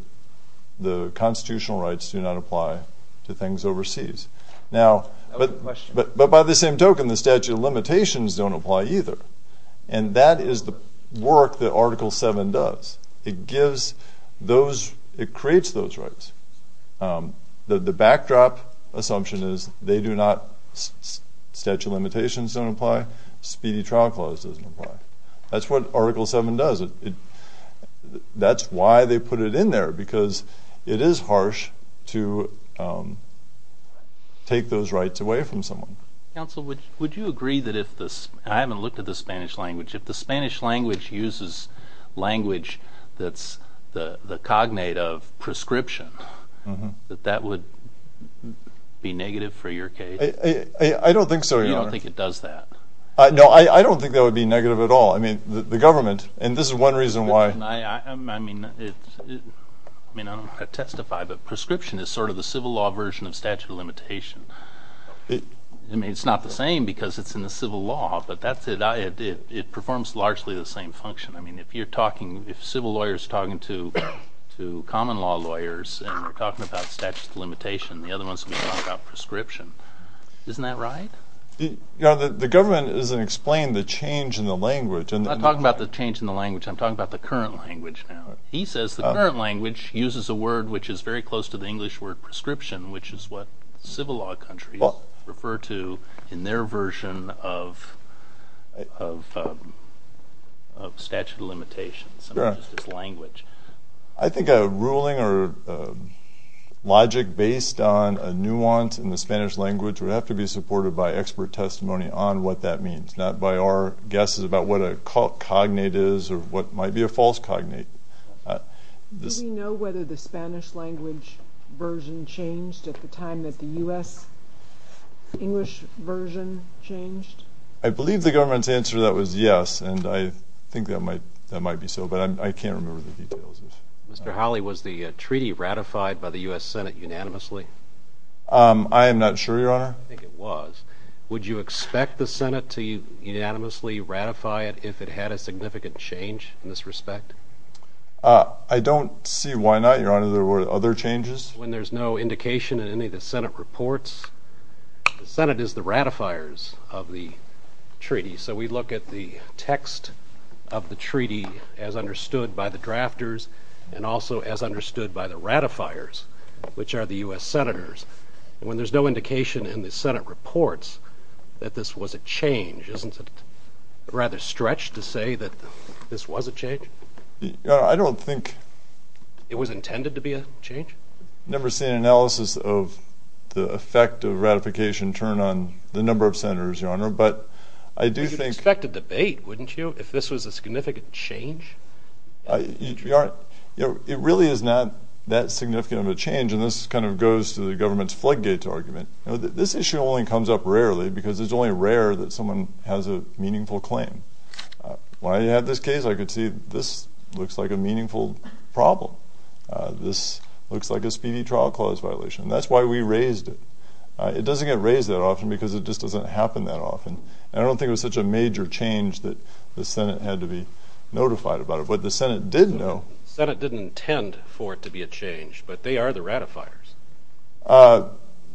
the constitutional rights do not apply to things overseas. Now, but by the same token, the statute of limitations don't apply either. And that is the work that Article 7 does. It gives those, it creates those rights. The backdrop assumption is they do not, statute of limitations don't apply, speedy trial clause doesn't apply. That's what Article 7 does. That's why they put it in there, because it is harsh to take those rights away from someone. Counsel, would you agree that if the, and I haven't looked at the Spanish language, if the Spanish language uses language that's the cognate of prescription, that that would be negative for your case? I don't think so, Your Honor. You don't think it does that? No, I don't think that would be negative at all. I mean, the government, and this is one reason why. I mean, I don't know how to testify, but prescription is sort of the civil law version of statute of limitation. I mean, it's not the same because it's in the civil law, but that's it, it performs largely the same function. I mean, if you're talking, if civil lawyers are talking to common law lawyers and they're talking about statute of limitation, the other ones will be talking about prescription. Isn't that right? Your Honor, the government doesn't explain the change in the language. I'm not talking about the change in the language. I'm talking about the current language now. He says the current language uses a word which is very close to the English word prescription, which is what civil law countries refer to in their version of statute of limitations. I think a ruling or logic based on a nuance in the Spanish language would have to be supported by expert testimony on what that means, not by our guesses about what a cognate is or what might be a false cognate. Do we know whether the Spanish language version changed at the time that the U.S. English version changed? I believe the government's answer to that was yes, and I think that might be so, but I can't remember the details. Mr. Hawley, was the treaty ratified by the U.S. Senate unanimously? I am not sure, Your Honor. I think it was. Would you expect the Senate to unanimously ratify it if it had a significant change in this respect? I don't see why not, Your Honor. There were other changes. When there's no indication in any of the Senate reports, the Senate is the ratifiers of the treaty. So we look at the text of the treaty as understood by the drafters and also as understood by the ratifiers, which are the U.S. senators. When there's no indication in the Senate reports that this was a change, isn't it rather stretched to say that this was a change? I don't think it was intended to be a change. I've never seen an analysis of the effect of ratification turned on the number of senators, Your Honor. You'd expect a debate, wouldn't you, if this was a significant change? Your Honor, it really is not that significant of a change, and this kind of goes to the government's floodgates argument. This issue only comes up rarely because it's only rare that someone has a meaningful claim. When I had this case, I could see this looks like a meaningful problem. This looks like a speedy trial clause violation, and that's why we raised it. It doesn't get raised that often because it just doesn't happen that often, and I don't think it was such a major change that the Senate had to be notified about it. What the Senate did know— The Senate didn't intend for it to be a change, but they are the ratifiers.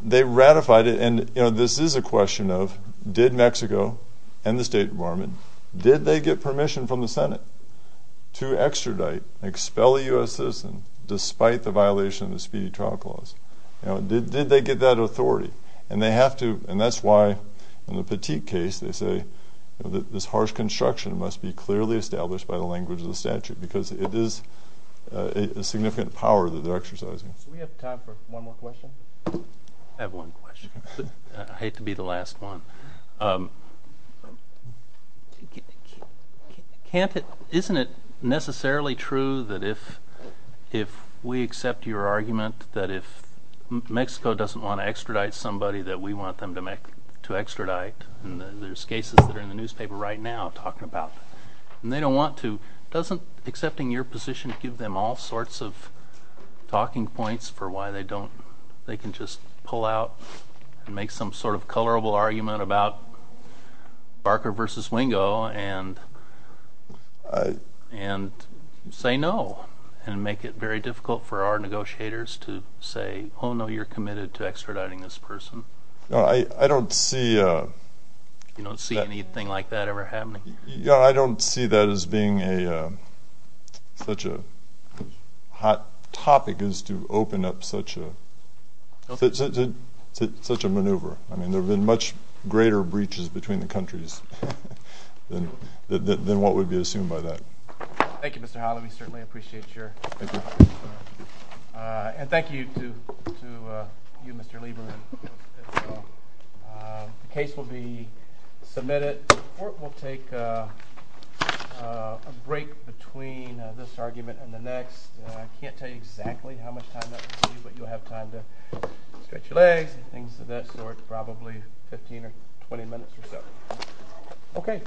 They ratified it, and, you know, this is a question of did Mexico and the State Department, did they get permission from the Senate to extradite, expel a U.S. citizen despite the violation of the speedy trial clause? Did they get that authority? And they have to, and that's why in the Petit case they say this harsh construction must be clearly established by the language of the statute because it is a significant power that they're exercising. Do we have time for one more question? I have one question. I hate to be the last one. Can't it—isn't it necessarily true that if we accept your argument that if Mexico doesn't want to extradite somebody that we want them to extradite, and there's cases that are in the newspaper right now talking about it, and they don't want to, doesn't accepting your position give them all sorts of talking points for why they don't—they can just pull out and make some sort of colorable argument about Barker v. Wingo and say no and make it very difficult for our negotiators to say, oh, no, you're committed to extraditing this person? I don't see— You don't see anything like that ever happening? I don't see that as being such a hot topic is to open up such a maneuver. I mean, there have been much greater breaches between the countries than what would be assumed by that. Thank you, Mr. Howley. We certainly appreciate your—and thank you to you, Mr. Lieberman, as well. The case will be submitted—we'll take a break between this argument and the next. I can't tell you exactly how much time that will be, but you'll have time to stretch your legs and things of that sort, probably 15 or 20 minutes or so. Okay.